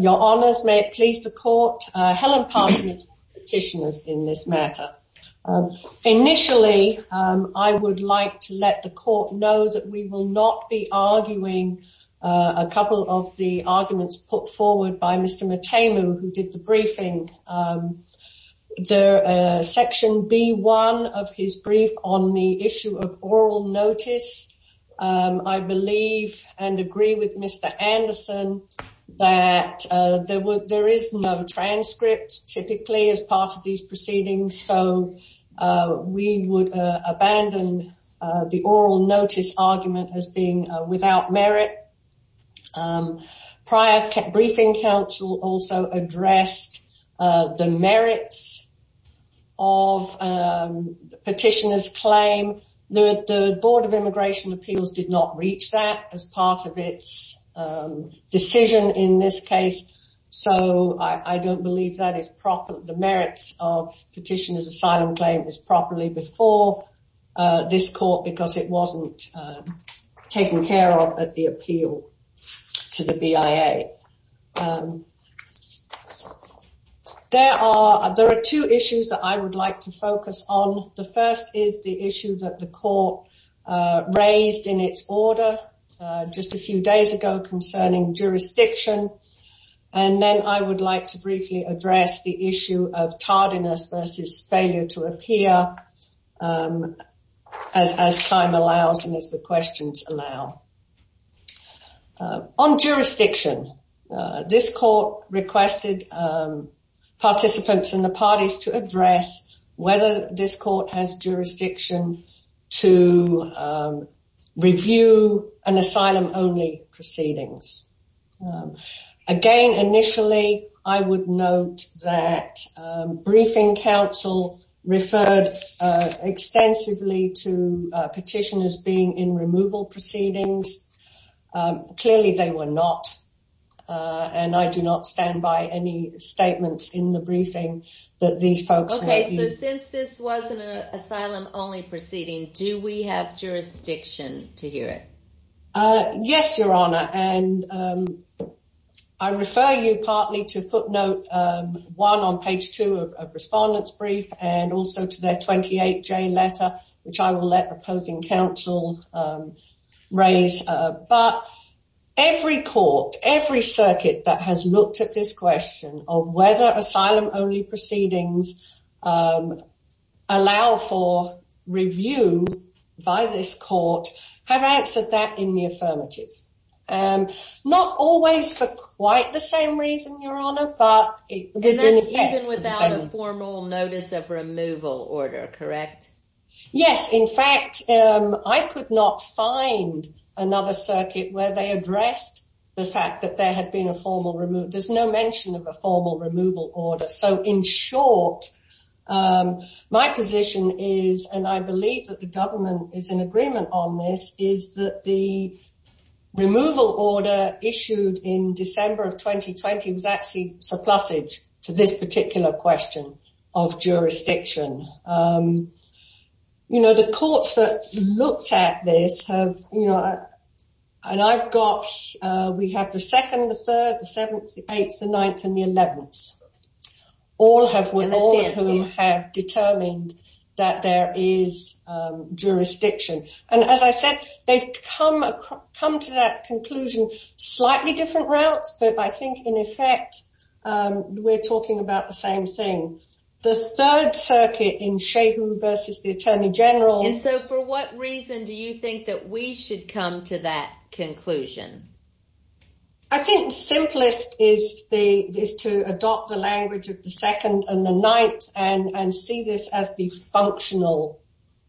Your Honours, may it please the court, Helen Parsons is the petitioner in this matter. Initially, I would like to let the court know that we will not be arguing a couple of the arguments put forward by Mr. Matemu who did the briefing. Section B1 of his brief on the issue of oral notice. I believe and agree with Mr. Anderson that there is no transcript typically as part of these proceedings. So we would abandon the oral notice argument as being without merit. Prior briefing counsel also addressed the merits of petitioner's claim. The Board of Immigration Appeals did not reach that as part of its decision in this case. So I don't believe that the merits of petitioner's asylum claim is properly before this court because it wasn't taken care of at the appeal to the BIA. There are two issues that I would like to focus on. The first is the issue that the court raised in its order just a few days ago concerning jurisdiction. And then I would like to briefly address the issue of tardiness versus failure to appear as time allows and as the questions allow. On jurisdiction, this court requested participants and the parties to address whether this court has jurisdiction to review an asylum only proceedings. Again, initially, I would note that briefing counsel referred extensively to petitioners being in removal proceedings. Clearly, they were not. And I do not stand by any statements in the briefing that these folks... Okay, so since this wasn't an asylum only proceeding, do we have jurisdiction to hear it? Yes, Your Honor. And I refer you partly to footnote one on page two of respondents brief and also to their 28-J letter, which I will let opposing counsel raise. But every court, every circuit that has looked at this question of whether asylum only proceedings allow for review by this court have answered that in the affirmative. Not always for quite the same reason, Your Honor, but... Even without a formal notice of removal order, correct? Yes, in fact, I could not find another circuit where they addressed the fact that there had been a formal removal. There's no mention of a formal removal order. So in short, my position is, and I believe that the government is in agreement on this, is that the removal order issued in December of 2020 was actually surplusage to this particular question of jurisdiction. You know, the courts that looked at this have, you know, and I've got, we have the 2nd, the 3rd, the 7th, the 8th, the 9th, and the 11th, all of whom have determined that there is jurisdiction. And as I said, they've come to that conclusion slightly different routes, but I think in effect, we're talking about the same thing. The 3rd Circuit in Shehu versus the Attorney General. And so for what reason do you think that we should come to that conclusion? I think simplest is to adopt the language of the 2nd and the 9th and see this as the functional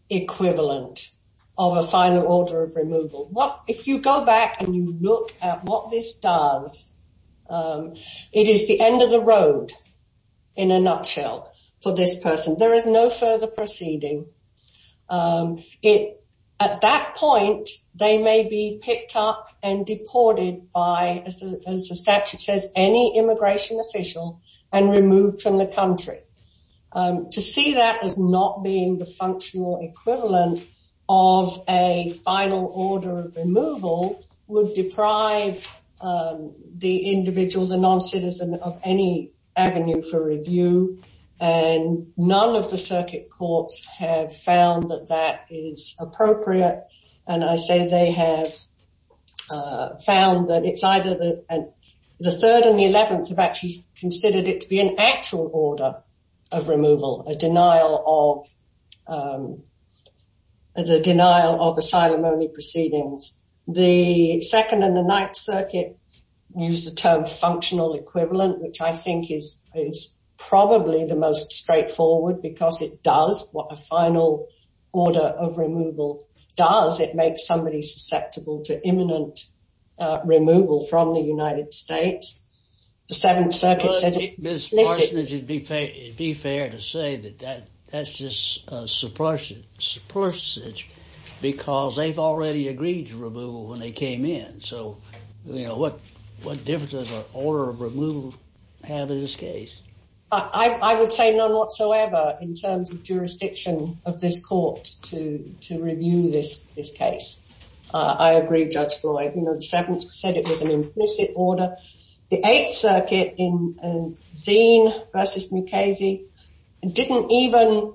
equivalent of a final order of removal. If you go back and you look at what this does, it is the end of the road in a nutshell for this person. There is no further proceeding. At that point, they may be picked up and deported by, as the statute says, any immigration official and removed from the country. To see that as not being the functional equivalent of a final order of removal would deprive the individual, the non-citizen of any avenue for review. And none of the circuit courts have found that that is appropriate. And I say they have found that it's either the 3rd and the 11th have actually considered it to be an actual order of removal, a denial of the denial of asylum only proceedings. The 2nd and the 9th Circuit use the term functional equivalent, which I think is probably the most straightforward because it does what a final order of removal does. It makes somebody susceptible to imminent removal from the United States. It would be fair to say that that's just a suppression, because they've already agreed to removal when they came in. So what difference does an order of removal have in this case? I would say none whatsoever in terms of jurisdiction of this court to review this case. I agree, Judge Floyd, you know, the 7th said it was an implicit order. The 8th Circuit in Zein v. Mukasey didn't even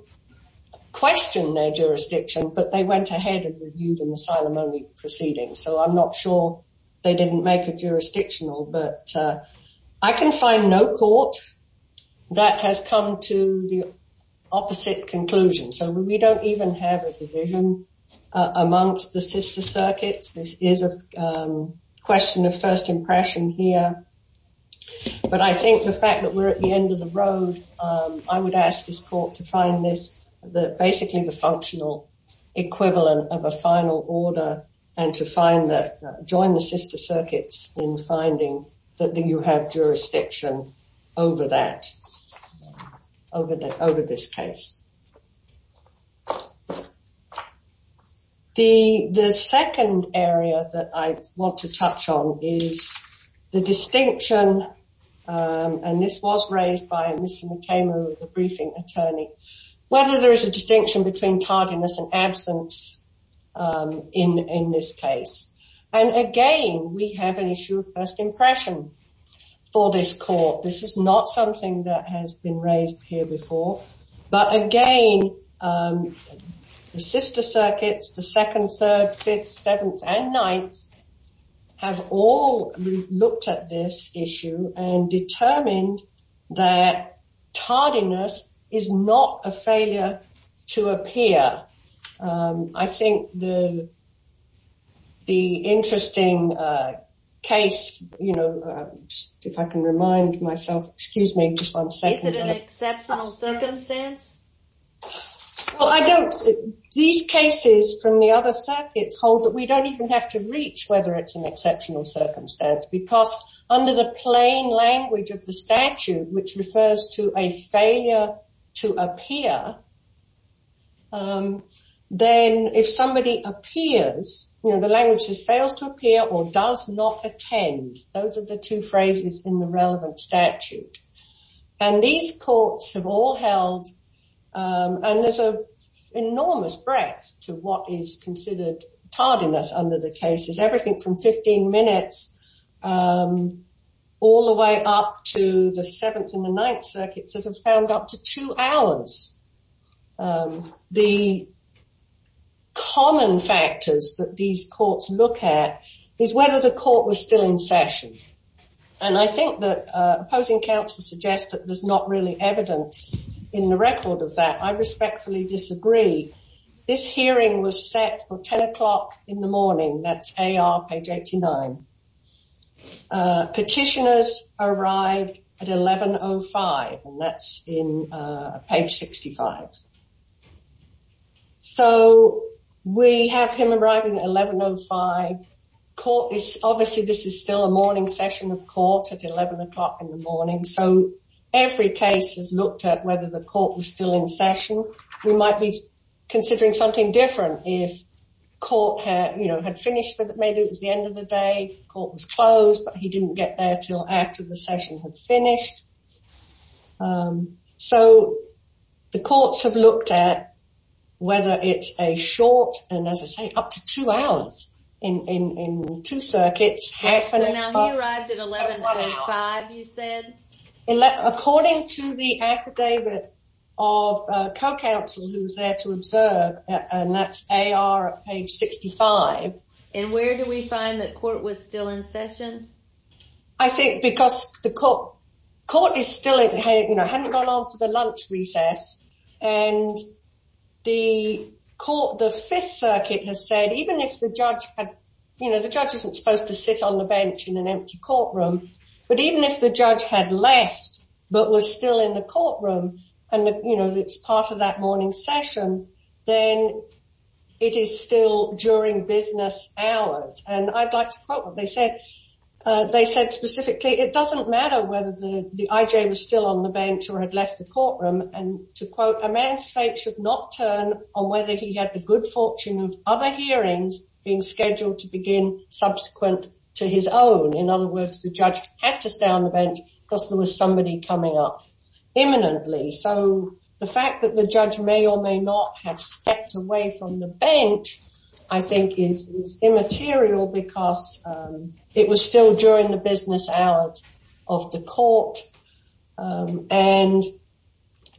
question their jurisdiction, but they went ahead and reviewed an asylum only proceeding. So I'm not sure they didn't make it jurisdictional, but I can find no court that has come to the opposite conclusion. So we don't even have a division amongst the sister circuits. This is a question of first impression here, but I think the fact that we're at the end of the road, I would ask this court to find this, basically the functional equivalent of a final order, and to join the sister circuits in finding that you have jurisdiction over that, over this case. The second area that I want to touch on is the distinction, and this was raised by Mr. Mutemu, the briefing attorney, whether there is a distinction between tardiness and absence in this case. And again, we have an issue of first impression for this court. This is not something that has been raised here before. But again, the sister circuits, the 2nd, 3rd, 5th, 7th, and 9th have all looked at this issue and determined that tardiness is not a failure to appear. I think the interesting case, you know, if I can remind myself, excuse me just one second. Is it an exceptional circumstance? Well, I don't, these cases from the other circuits hold that we don't even have to reach whether it's an exceptional circumstance, because under the plain language of the statute, which refers to a failure to appear, then if somebody appears, you know, the language is fails to appear or does not attend. Those are the two phrases in the relevant statute. And these courts have all held, and there's an enormous breadth to what is considered tardiness under the cases, everything from 15 minutes all the way up to the 7th and the 9th circuits that have found up to two hours. The common factors that these courts look at is whether the court was still in session. And I think that opposing counsel suggests that there's not really evidence in the record of that. I respectfully disagree. This hearing was set for 10 o'clock in the morning. That's AR page 89. Petitioners arrived at 1105, and that's in page 65. So we have him arriving at 1105. Obviously, this is still a morning session of court at 11 o'clock in the morning. So every case has looked at whether the court was still in session. We might be considering something different if court, you know, had finished, but maybe it was the end of the day. Court was closed, but he didn't get there till after the session had finished. So the courts have looked at whether it's a short, and as I say, up to two hours in two circuits. So now he arrived at 1135, you said? According to the affidavit of co-counsel who was there to observe, and that's AR page 65. And where do we find that court was still in session? I think because the court is still in, you know, hadn't gone on for the lunch recess. And the court, the Fifth Circuit has said, even if the judge had, you know, the judge isn't supposed to sit on the bench in an empty courtroom. But even if the judge had left, but was still in the courtroom, and, you know, it's part of that morning session, then it is still during business hours. And I'd like to quote what they said. They said specifically, it doesn't matter whether the IJ was still on the bench or had left the courtroom. And to quote, a man's fate should not turn on whether he had the good fortune of other hearings being scheduled to begin subsequent to his own. In other words, the judge had to stay on the bench because there was somebody coming up imminently. So the fact that the judge may or may not have stepped away from the bench, I think is immaterial because it was still during the business hours of the court. And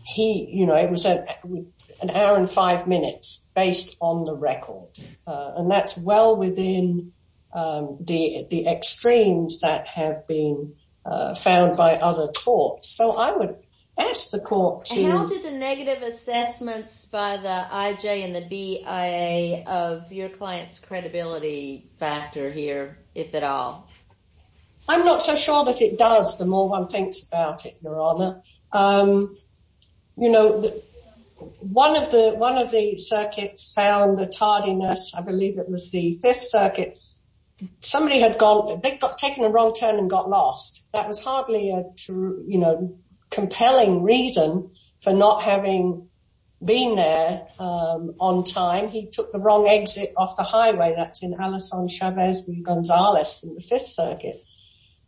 he, you know, it was an hour and five minutes based on the record. And that's well within the extremes that have been found by other courts. So I would ask the court to... How did the negative assessments by the IJ and the BIA of your client's credibility factor here, if at all? I'm not so sure that it does, the more one thinks about it, Your Honor. You know, one of the circuits found the tardiness, I believe it was the Fifth Circuit. Somebody had gone, they'd taken a wrong turn and got lost. That was hardly a true, you know, compelling reason for not having been there on time. He took the wrong exit off the highway. That's in Alessandro Chavez Gonzales in the Fifth Circuit.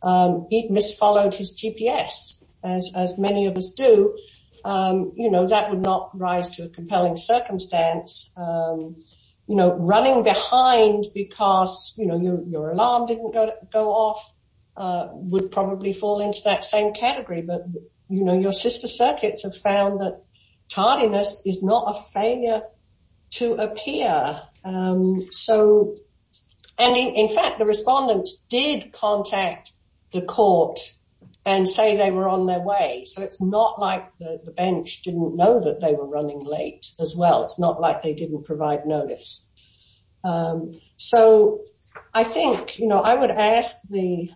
He'd misfollowed his GPS, as many of us do. You know, that would not rise to a compelling circumstance. You know, running behind because, you know, your alarm didn't go off would probably fall into that same category. But, you know, your sister circuits have found that tardiness is not a failure to appear. So, and in fact, the respondents did contact the court and say they were on their way. So it's not like the bench didn't know that they were running late as well. It's not like they didn't provide notice. So I think, you know, I would ask the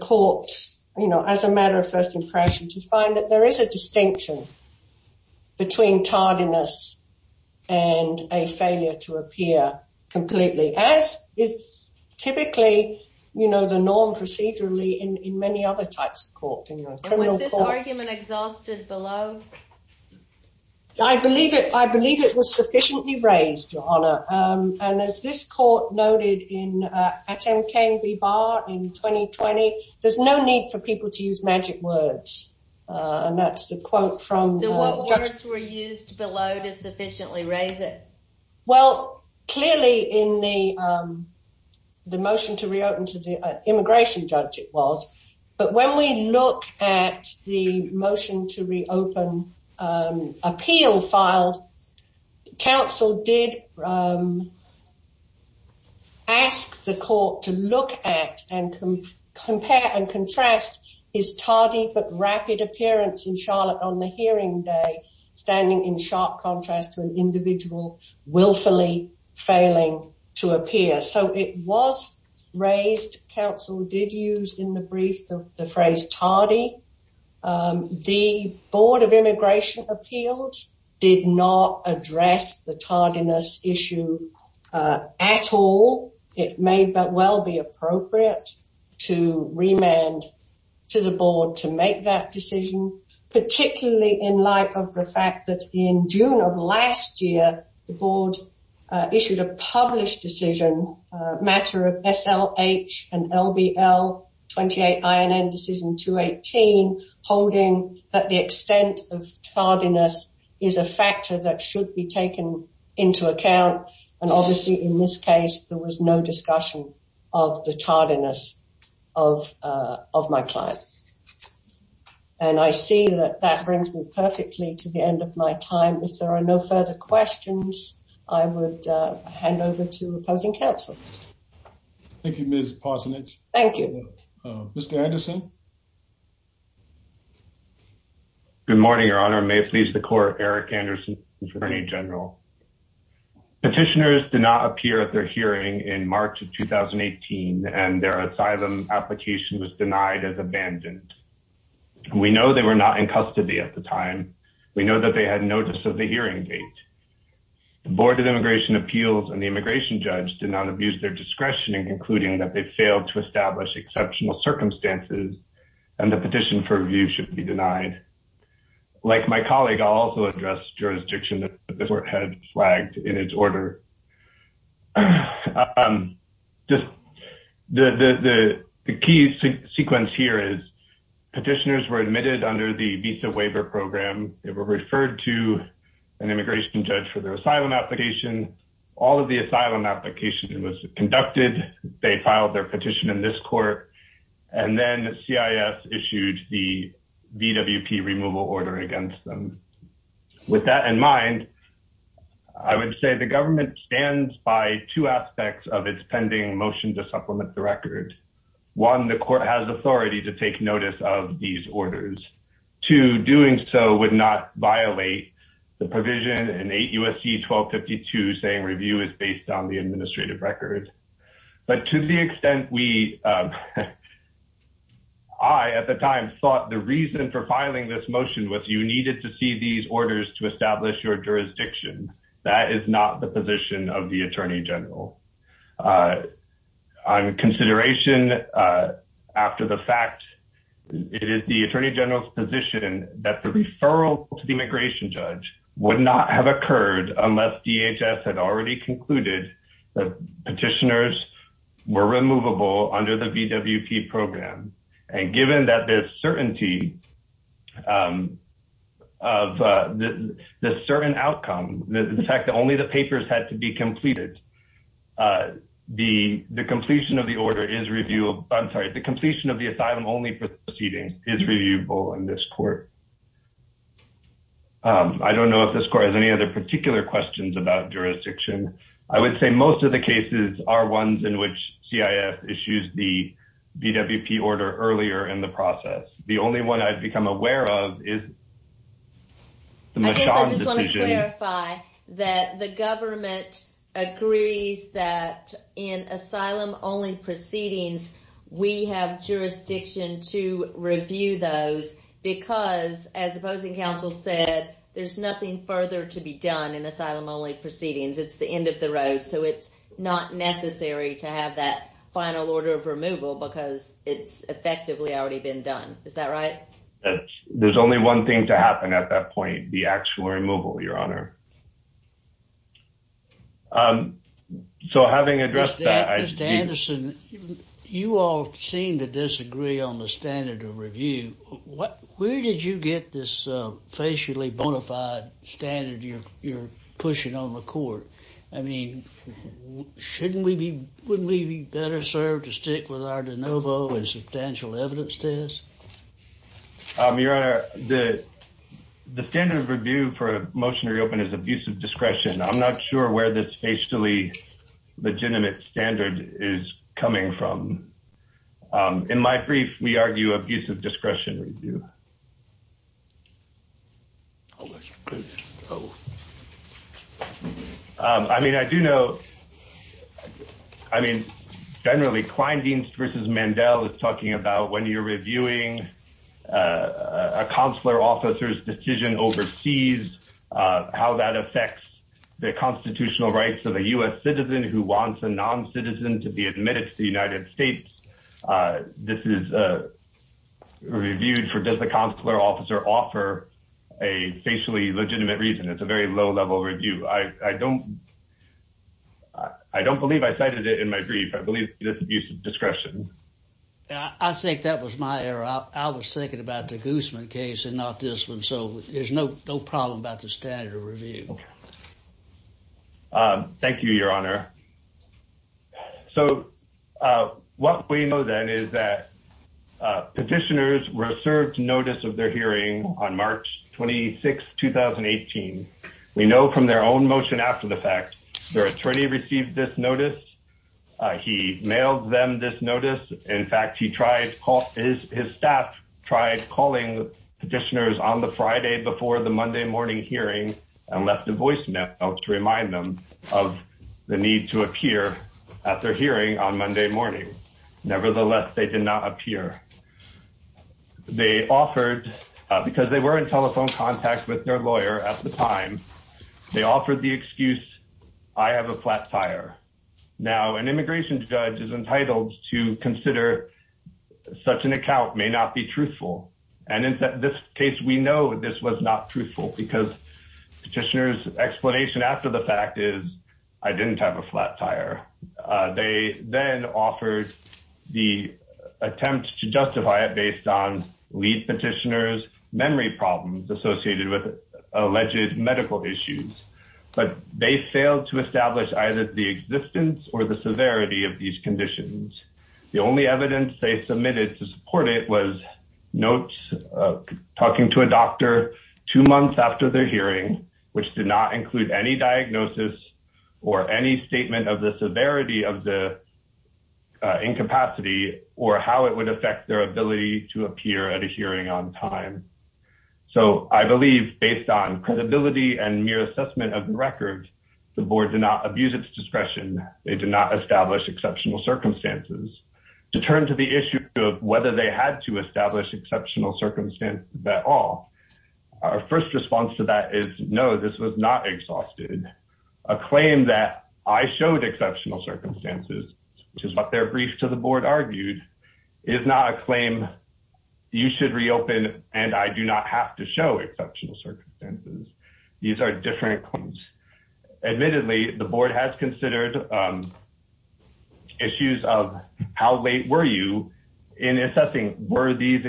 court, you know, as a matter of first impression, to find that there is a distinction between tardiness and a failure to appear completely. As is typically, you know, the norm procedurally in many other types of court. Was this argument exhausted below? I believe it. I believe it was sufficiently raised, your Honor. And as this court noted in Atem K. Bibar in 2020, there's no need for people to use magic words. And that's the quote from the judge. So what words were used below to sufficiently raise it? Well, clearly in the motion to reopen to the immigration judge it was. But when we look at the motion to reopen appeal filed, counsel did ask the court to look at and compare and contrast his tardy but rapid appearance in Charlotte on the hearing day, standing in sharp contrast to an individual willfully failing to appear. So it was raised. Counsel did use in the brief the phrase tardy. The Board of Immigration Appeals did not address the tardiness issue at all. It may well be appropriate to remand to the board to make that decision, particularly in light of the fact that in June of last year, the board issued a published decision, matter of SLH and LBL 28 INN decision 218, holding that the extent of tardiness is a factor that should be taken into account. And obviously, in this case, there was no discussion of the tardiness of of my client. And I see that that brings me perfectly to the end of my time. If there are no further questions, I would hand over to opposing counsel. Thank you, Ms. Parsonage. Thank you, Mr. Anderson. Good morning, Your Honor. May it please the court. Eric Anderson, Attorney General. Petitioners did not appear at their hearing in March of 2018, and their asylum application was denied as abandoned. We know they were not in custody at the time. We know that they had notice of the hearing date. The Board of Immigration Appeals and the immigration judge did not abuse their discretion in concluding that they failed to establish exceptional circumstances and the petition for review should be denied. Like my colleague, I'll also address jurisdiction that the court had flagged in its order. Just the key sequence here is petitioners were admitted under the visa waiver program. They were referred to an immigration judge for their asylum application. All of the asylum application was conducted. They filed their petition in this court, and then CIS issued the VWP removal order against them. With that in mind, I would say the government stands by two aspects of its pending motion to supplement the record. One, the court has authority to take notice of these orders. Two, doing so would not violate the provision in 8 U.S.C. 1252 saying review is based on the administrative record. But to the extent we – I, at the time, thought the reason for filing this motion was you needed to see these orders to establish your jurisdiction. That is not the position of the Attorney General. On consideration after the fact, it is the Attorney General's position that the referral to the immigration judge would not have occurred unless DHS had already concluded that petitioners were removable under the VWP program. And given that there's certainty of the certain outcome, the fact that only the papers had to be completed, the completion of the order is reviewable – I'm sorry, the completion of the asylum-only proceedings is reviewable in this court. I don't know if this court has any other particular questions about jurisdiction. I would say most of the cases are ones in which CIF issues the VWP order earlier in the process. The only one I've become aware of is the Machon decision. I guess I just want to clarify that the government agrees that in asylum-only proceedings, we have jurisdiction to review those because, as opposing counsel said, there's nothing further to be done in asylum-only proceedings. It's the end of the road, so it's not necessary to have that final order of removal because it's effectively already been done. Is that right? There's only one thing to happen at that point – the actual removal, Your Honor. So, having addressed that… Mr. Anderson, you all seem to disagree on the standard of review. Where did you get this facially bona fide standard you're pushing on the court? I mean, wouldn't we be better served to stick with our de novo and substantial evidence test? Your Honor, the standard of review for a motion to reopen is abusive discretion. I'm not sure where this facially legitimate standard is coming from. In my brief, we argue abusive discretion review. I mean, I do know… I mean, generally, Kleindienst v. Mandel is talking about when you're reviewing a consular officer's decision overseas, how that affects the constitutional rights of a U.S. citizen who wants a non-citizen to be admitted to the United States. This is reviewed for does the consular officer offer a facially legitimate reason. It's a very low-level review. I don't believe I cited it in my brief. I believe it's abusive discretion. I think that was my error. I was thinking about the Guzman case and not this one, so there's no problem about the standard of review. Thank you, Your Honor. What we know, then, is that petitioners were served notice of their hearing on March 26, 2018. We know from their own motion after the fact. Their attorney received this notice. He mailed them this notice. In fact, his staff tried calling petitioners on the Friday before the Monday morning hearing and left a voicemail to remind them of the need to appear at their hearing on Monday morning. Nevertheless, they did not appear. Because they were in telephone contact with their lawyer at the time, they offered the excuse, I have a flat tire. Now, an immigration judge is entitled to consider such an account may not be truthful. And in this case, we know this was not truthful because petitioners' explanation after the fact is, I didn't have a flat tire. They then offered the attempt to justify it based on lead petitioners' memory problems associated with alleged medical issues. But they failed to establish either the existence or the severity of these conditions. The only evidence they submitted to support it was notes of talking to a doctor two months after their hearing, which did not include any diagnosis or any statement of the severity of the incapacity or how it would affect their ability to appear at a hearing on time. So I believe, based on credibility and mere assessment of the record, the board did not abuse its discretion. They did not establish exceptional circumstances. To turn to the issue of whether they had to establish exceptional circumstances at all, our first response to that is, no, this was not exhausted. A claim that I showed exceptional circumstances, which is what their brief to the board argued, is not a claim you should reopen and I do not have to show exceptional circumstances. These are different claims. Admittedly, the board has considered issues of how late were you in assessing were these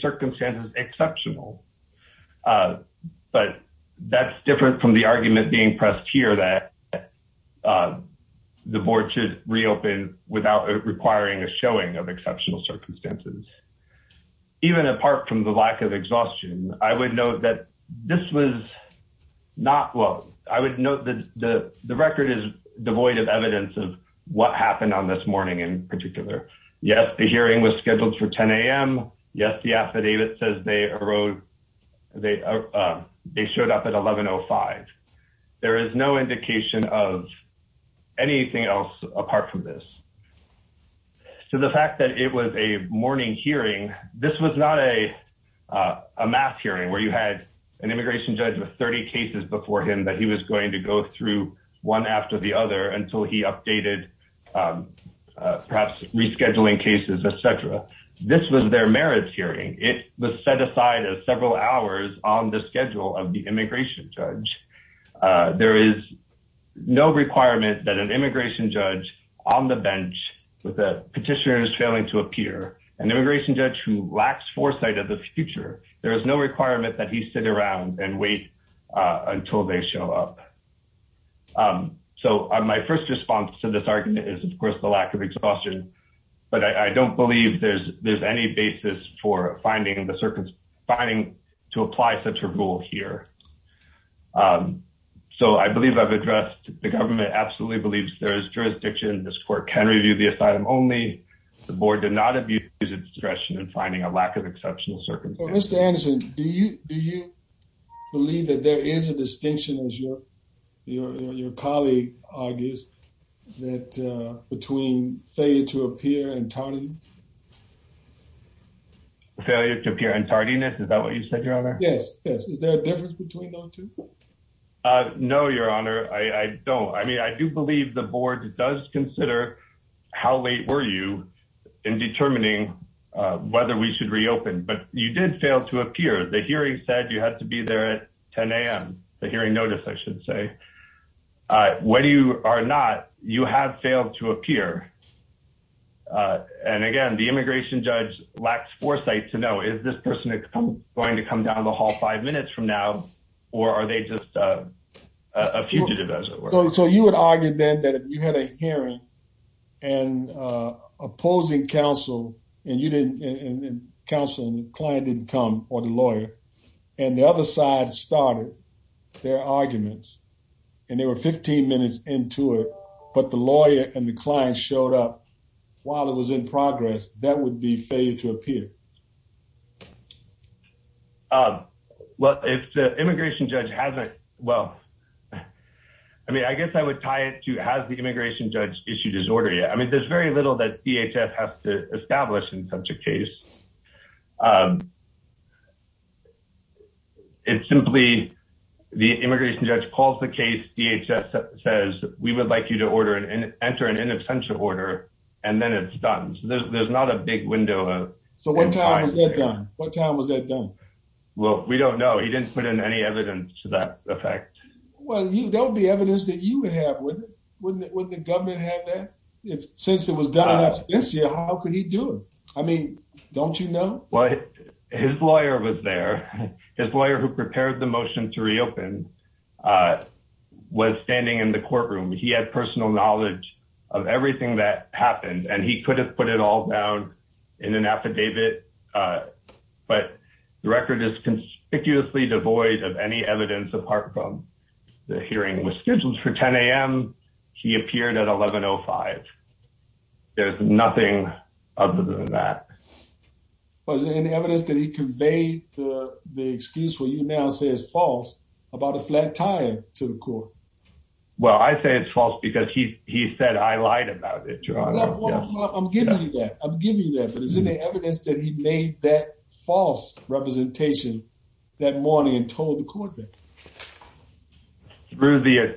circumstances exceptional? But that's different from the argument being pressed here that the board should reopen without requiring a showing of exceptional circumstances. Even apart from the lack of exhaustion, I would note that this was not well, I would note that the record is devoid of evidence of what happened on this morning in particular. Yes, the hearing was scheduled for 10 a.m. Yes, the affidavit says they showed up at 1105. There is no indication of anything else apart from this. To the fact that it was a morning hearing, this was not a mass hearing where you had an immigration judge with 30 cases before him that he was going to go through one after the other until he updated, perhaps rescheduling cases, etc. This was their merits hearing. It was set aside as several hours on the schedule of the immigration judge. There is no requirement that an immigration judge on the bench with a petitioner is failing to appear, an immigration judge who lacks foresight of the future, there is no requirement that he sit around and wait until they show up. So my first response to this argument is, of course, the lack of exhaustion. But I don't believe there's any basis for finding to apply such a rule here. So I believe I've addressed the government absolutely believes there is jurisdiction. This court can review the asylum only. The board did not abuse its discretion in finding a lack of exceptional circumstances. Mr. Anderson, do you believe that there is a distinction, as your colleague argues, that between failure to appear and tardiness? Failure to appear and tardiness? Is that what you said, Your Honor? Yes, yes. Is there a difference between those two? No, Your Honor, I don't. I mean, I do believe the board does consider how late were you in determining whether we should reopen. But you did fail to appear. The hearing said you had to be there at 10 a.m., the hearing notice, I should say. Whether you are not, you have failed to appear. And again, the immigration judge lacks foresight to know, is this person going to come down the hall five minutes from now, or are they just a fugitive, as it were? So you would argue then that you had a hearing and opposing counsel, and counsel and the client didn't come, or the lawyer. And the other side started their arguments, and they were 15 minutes into it, but the lawyer and the client showed up while it was in progress. That would be failure to appear. Well, if the immigration judge hasn't, well, I mean, I guess I would tie it to, has the immigration judge issued his order yet? I mean, there's very little that DHS has to establish in such a case. It's simply the immigration judge calls the case, DHS says, we would like you to enter an in absentia order, and then it's done. So there's not a big window. So what time was that done? What time was that done? Well, we don't know. He didn't put in any evidence to that effect. Well, that would be evidence that you would have, wouldn't it? Wouldn't the government have that? Since it was done in absentia, how could he do it? I mean, don't you know? Well, his lawyer was there. His lawyer who prepared the motion to reopen was standing in the courtroom. He had personal knowledge of everything that happened, and he could have put it all down in an affidavit, but the record is conspicuously devoid of any evidence apart from the hearing was scheduled for 10 a.m. He appeared at 1105. There's nothing other than that. Was there any evidence that he conveyed the excuse where you now say it's false about a flat time to the court? Well, I say it's false because he said I lied about it. I'm giving you that. I'm giving you that. But is there any evidence that he made that false representation that morning and told the court that? Through the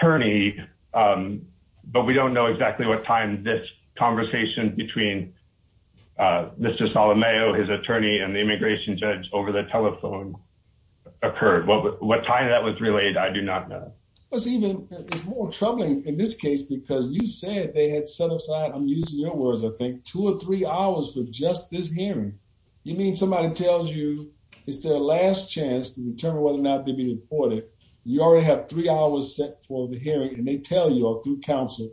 attorney, but we don't know exactly what time this conversation between Mr. The immigration judge over the telephone occurred. What time that was relayed, I do not know. It's even more troubling in this case because you said they had set aside, I'm using your words, I think, two or three hours for just this hearing. You mean somebody tells you it's their last chance to determine whether or not to be deported. You already have three hours set for the hearing, and they tell you through counsel,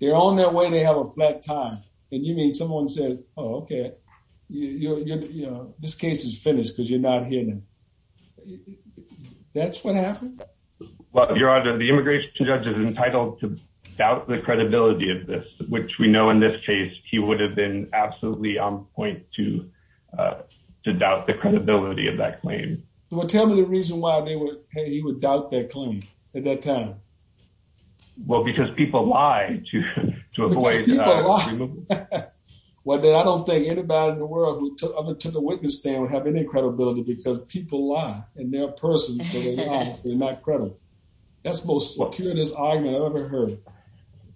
they're on their way, they have a flat time. And you mean someone said, oh, OK, you know, this case is finished because you're not here. That's what happened. Your Honor, the immigration judge is entitled to doubt the credibility of this, which we know in this case, he would have been absolutely on point to to doubt the credibility of that claim. Well, tell me the reason why he would doubt that claim at that time. Well, because people lie to to avoid. Well, I don't think anybody in the world to the witness stand would have any credibility because people lie in their person. They're not credible. That's most curious argument I've ever heard.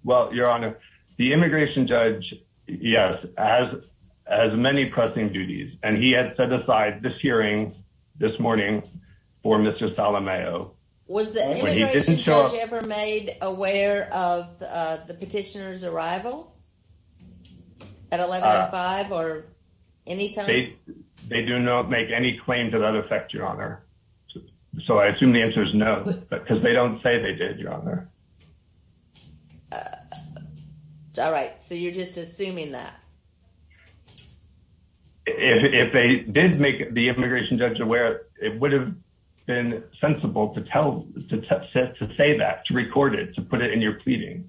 Well, Your Honor, the immigration judge, yes, as as many pressing duties. And he had set aside this hearing this morning for Mr. Was the immigration judge ever made aware of the petitioner's arrival at eleven five or any time? They do not make any claim to that effect, Your Honor. So I assume the answer is no, because they don't say they did, Your Honor. All right. So you're just assuming that. If they did make the immigration judge aware, it would have been sensible to tell to say that to record it, to put it in your pleading.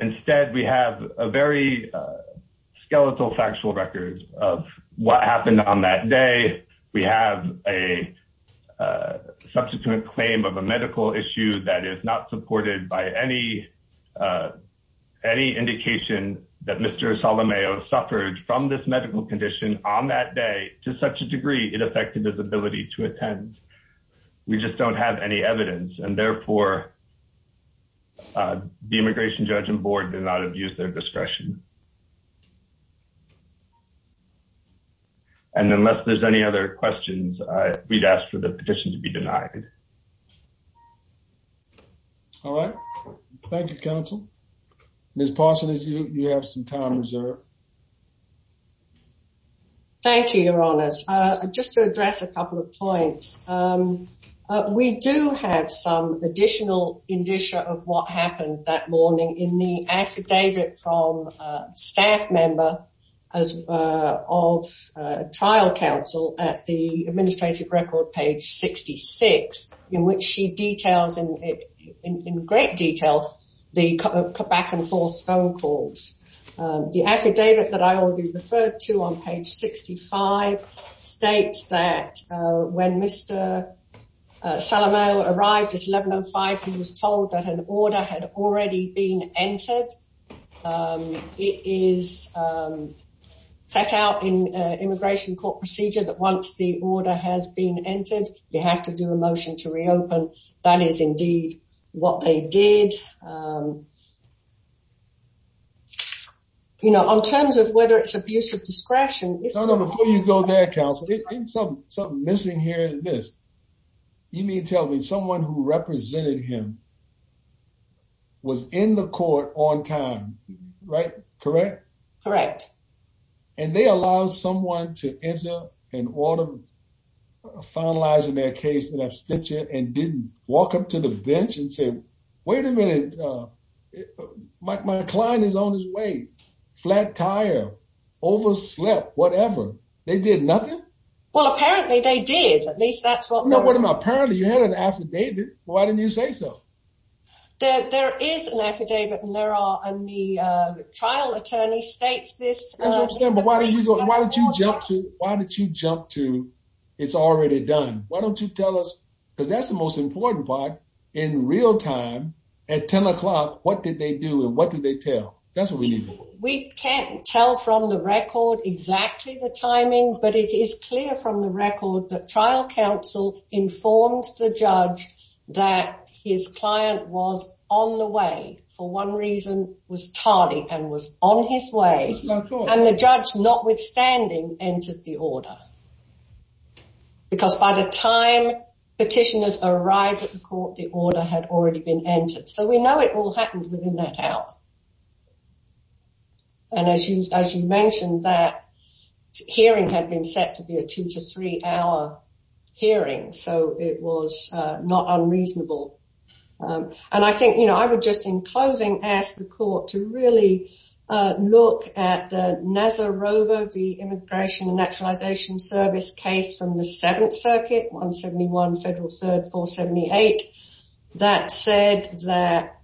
Instead, we have a very skeletal factual record of what happened on that day. We have a substantive claim of a medical issue that is not supported by any any indication that Mr. On that day, to such a degree, it affected his ability to attend. We just don't have any evidence and therefore. The immigration judge and board did not abuse their discretion. And unless there's any other questions, we'd ask for the petition to be denied. All right. Thank you, counsel. Ms. Parsons, you have some time reserved. Thank you, Your Honors. Just to address a couple of points. We do have some additional indicia of what happened that morning in the affidavit from staff member as of trial counsel at the administrative record, page 66, in which she details in great detail the back and forth phone calls. The affidavit that I already referred to on page 65 states that when Mr. Salomone arrived at 1105, he was told that an order had already been entered. It is set out in immigration court procedure that once the order has been entered, you have to do a motion to reopen. That is indeed what they did. You know, on terms of whether it's abuse of discretion. Before you go there, counsel, there's something missing here in this. You mean to tell me someone who represented him was in the court on time. Right. Correct. Correct. And they allow someone to enter an order finalizing their case in abstention and didn't walk up to the bench and say, wait a minute, my client is on his way. Flat tire, overslept, whatever. They did nothing. Well, apparently they did. At least that's what I'm apparently you had an affidavit. Why didn't you say so? There is an affidavit and there are the trial attorney states this. Why did you jump to? Why did you jump to? It's already done. Because that's the most important part in real time at 10 o'clock. What did they do and what did they tell? That's what we need. We can't tell from the record exactly the timing, but it is clear from the record that trial counsel informed the judge that his client was on the way for one reason was tardy and was on his way. And the judge, notwithstanding, entered the order. Because by the time petitioners arrived at the court, the order had already been entered. So we know it all happened within that hour. And as you mentioned, that hearing had been set to be a two to three hour hearing, so it was not unreasonable. And I think, you know, I would just in closing ask the court to really look at the NASA rover, the Immigration and Naturalization Service case from the 7th Circuit 171 Federal 3rd 478. That said that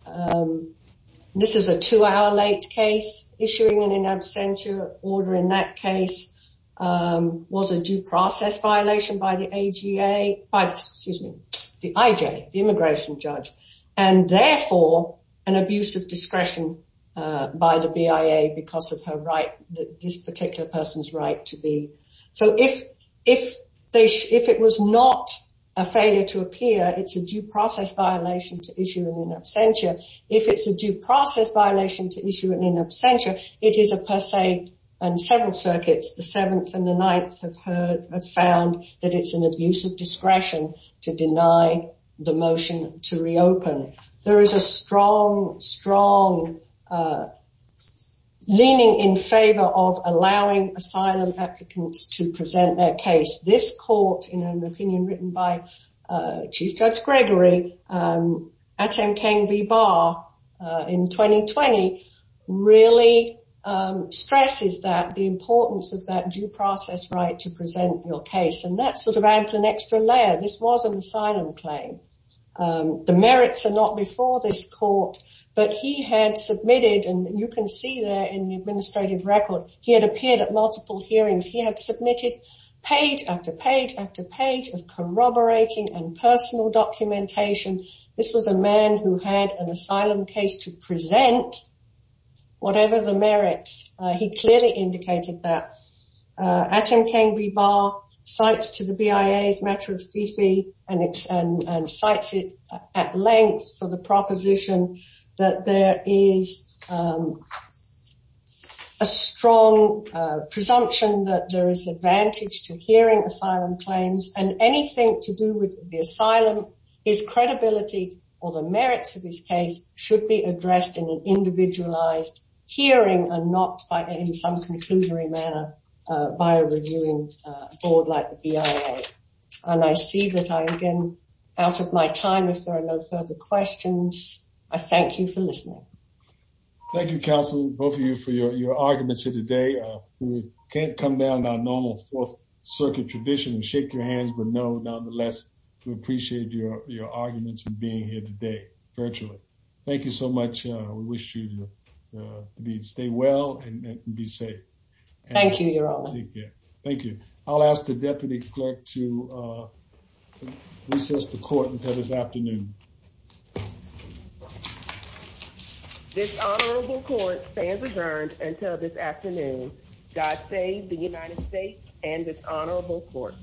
this is a two hour late case issuing an in absentia order in that case was a due process violation by the A.G.A., excuse me, the I.J., the immigration judge, and therefore an abuse of discretion by the B.I.A. because of her right, this particular person's right to be. So if it was not a failure to appear, it's a due process violation to issue an in absentia. If it's a due process violation to issue an in absentia, it is a per se and several circuits, the 7th and the 9th have found that it's an abuse of discretion to deny the motion to reopen. There is a strong, strong leaning in favor of allowing asylum applicants to present their case. This court, in an opinion written by Chief Judge Gregory at NKV Bar in 2020, really stresses that the importance of that due process right to present your case. And that sort of adds an extra layer. This was an asylum claim. The merits are not before this court, but he had submitted, and you can see there in the administrative record, he had appeared at multiple hearings. He had submitted page after page after page of corroborating and personal documentation. This was a man who had an asylum case to present whatever the merits. He clearly indicated that. At NKV Bar cites to the BIA's matter of FIFI and cites it at length for the proposition that there is a strong presumption that there is advantage to hearing asylum claims. And anything to do with the asylum, his credibility or the merits of his case should be addressed in an individualized hearing and not in some conclusory manner by a reviewing board like the BIA. And I see that I'm getting out of my time. If there are no further questions, I thank you for listening. Thank you, counsel, both of you for your arguments here today. We can't come down to our normal Fourth Circuit tradition and shake your hands, but no, nonetheless, we appreciate your arguments and being here today virtually. Thank you so much. We wish you to stay well and be safe. Thank you, Your Honor. Thank you. I'll ask the deputy clerk to recess the court until this afternoon. This honorable court stands adjourned until this afternoon. God save the United States and this honorable court.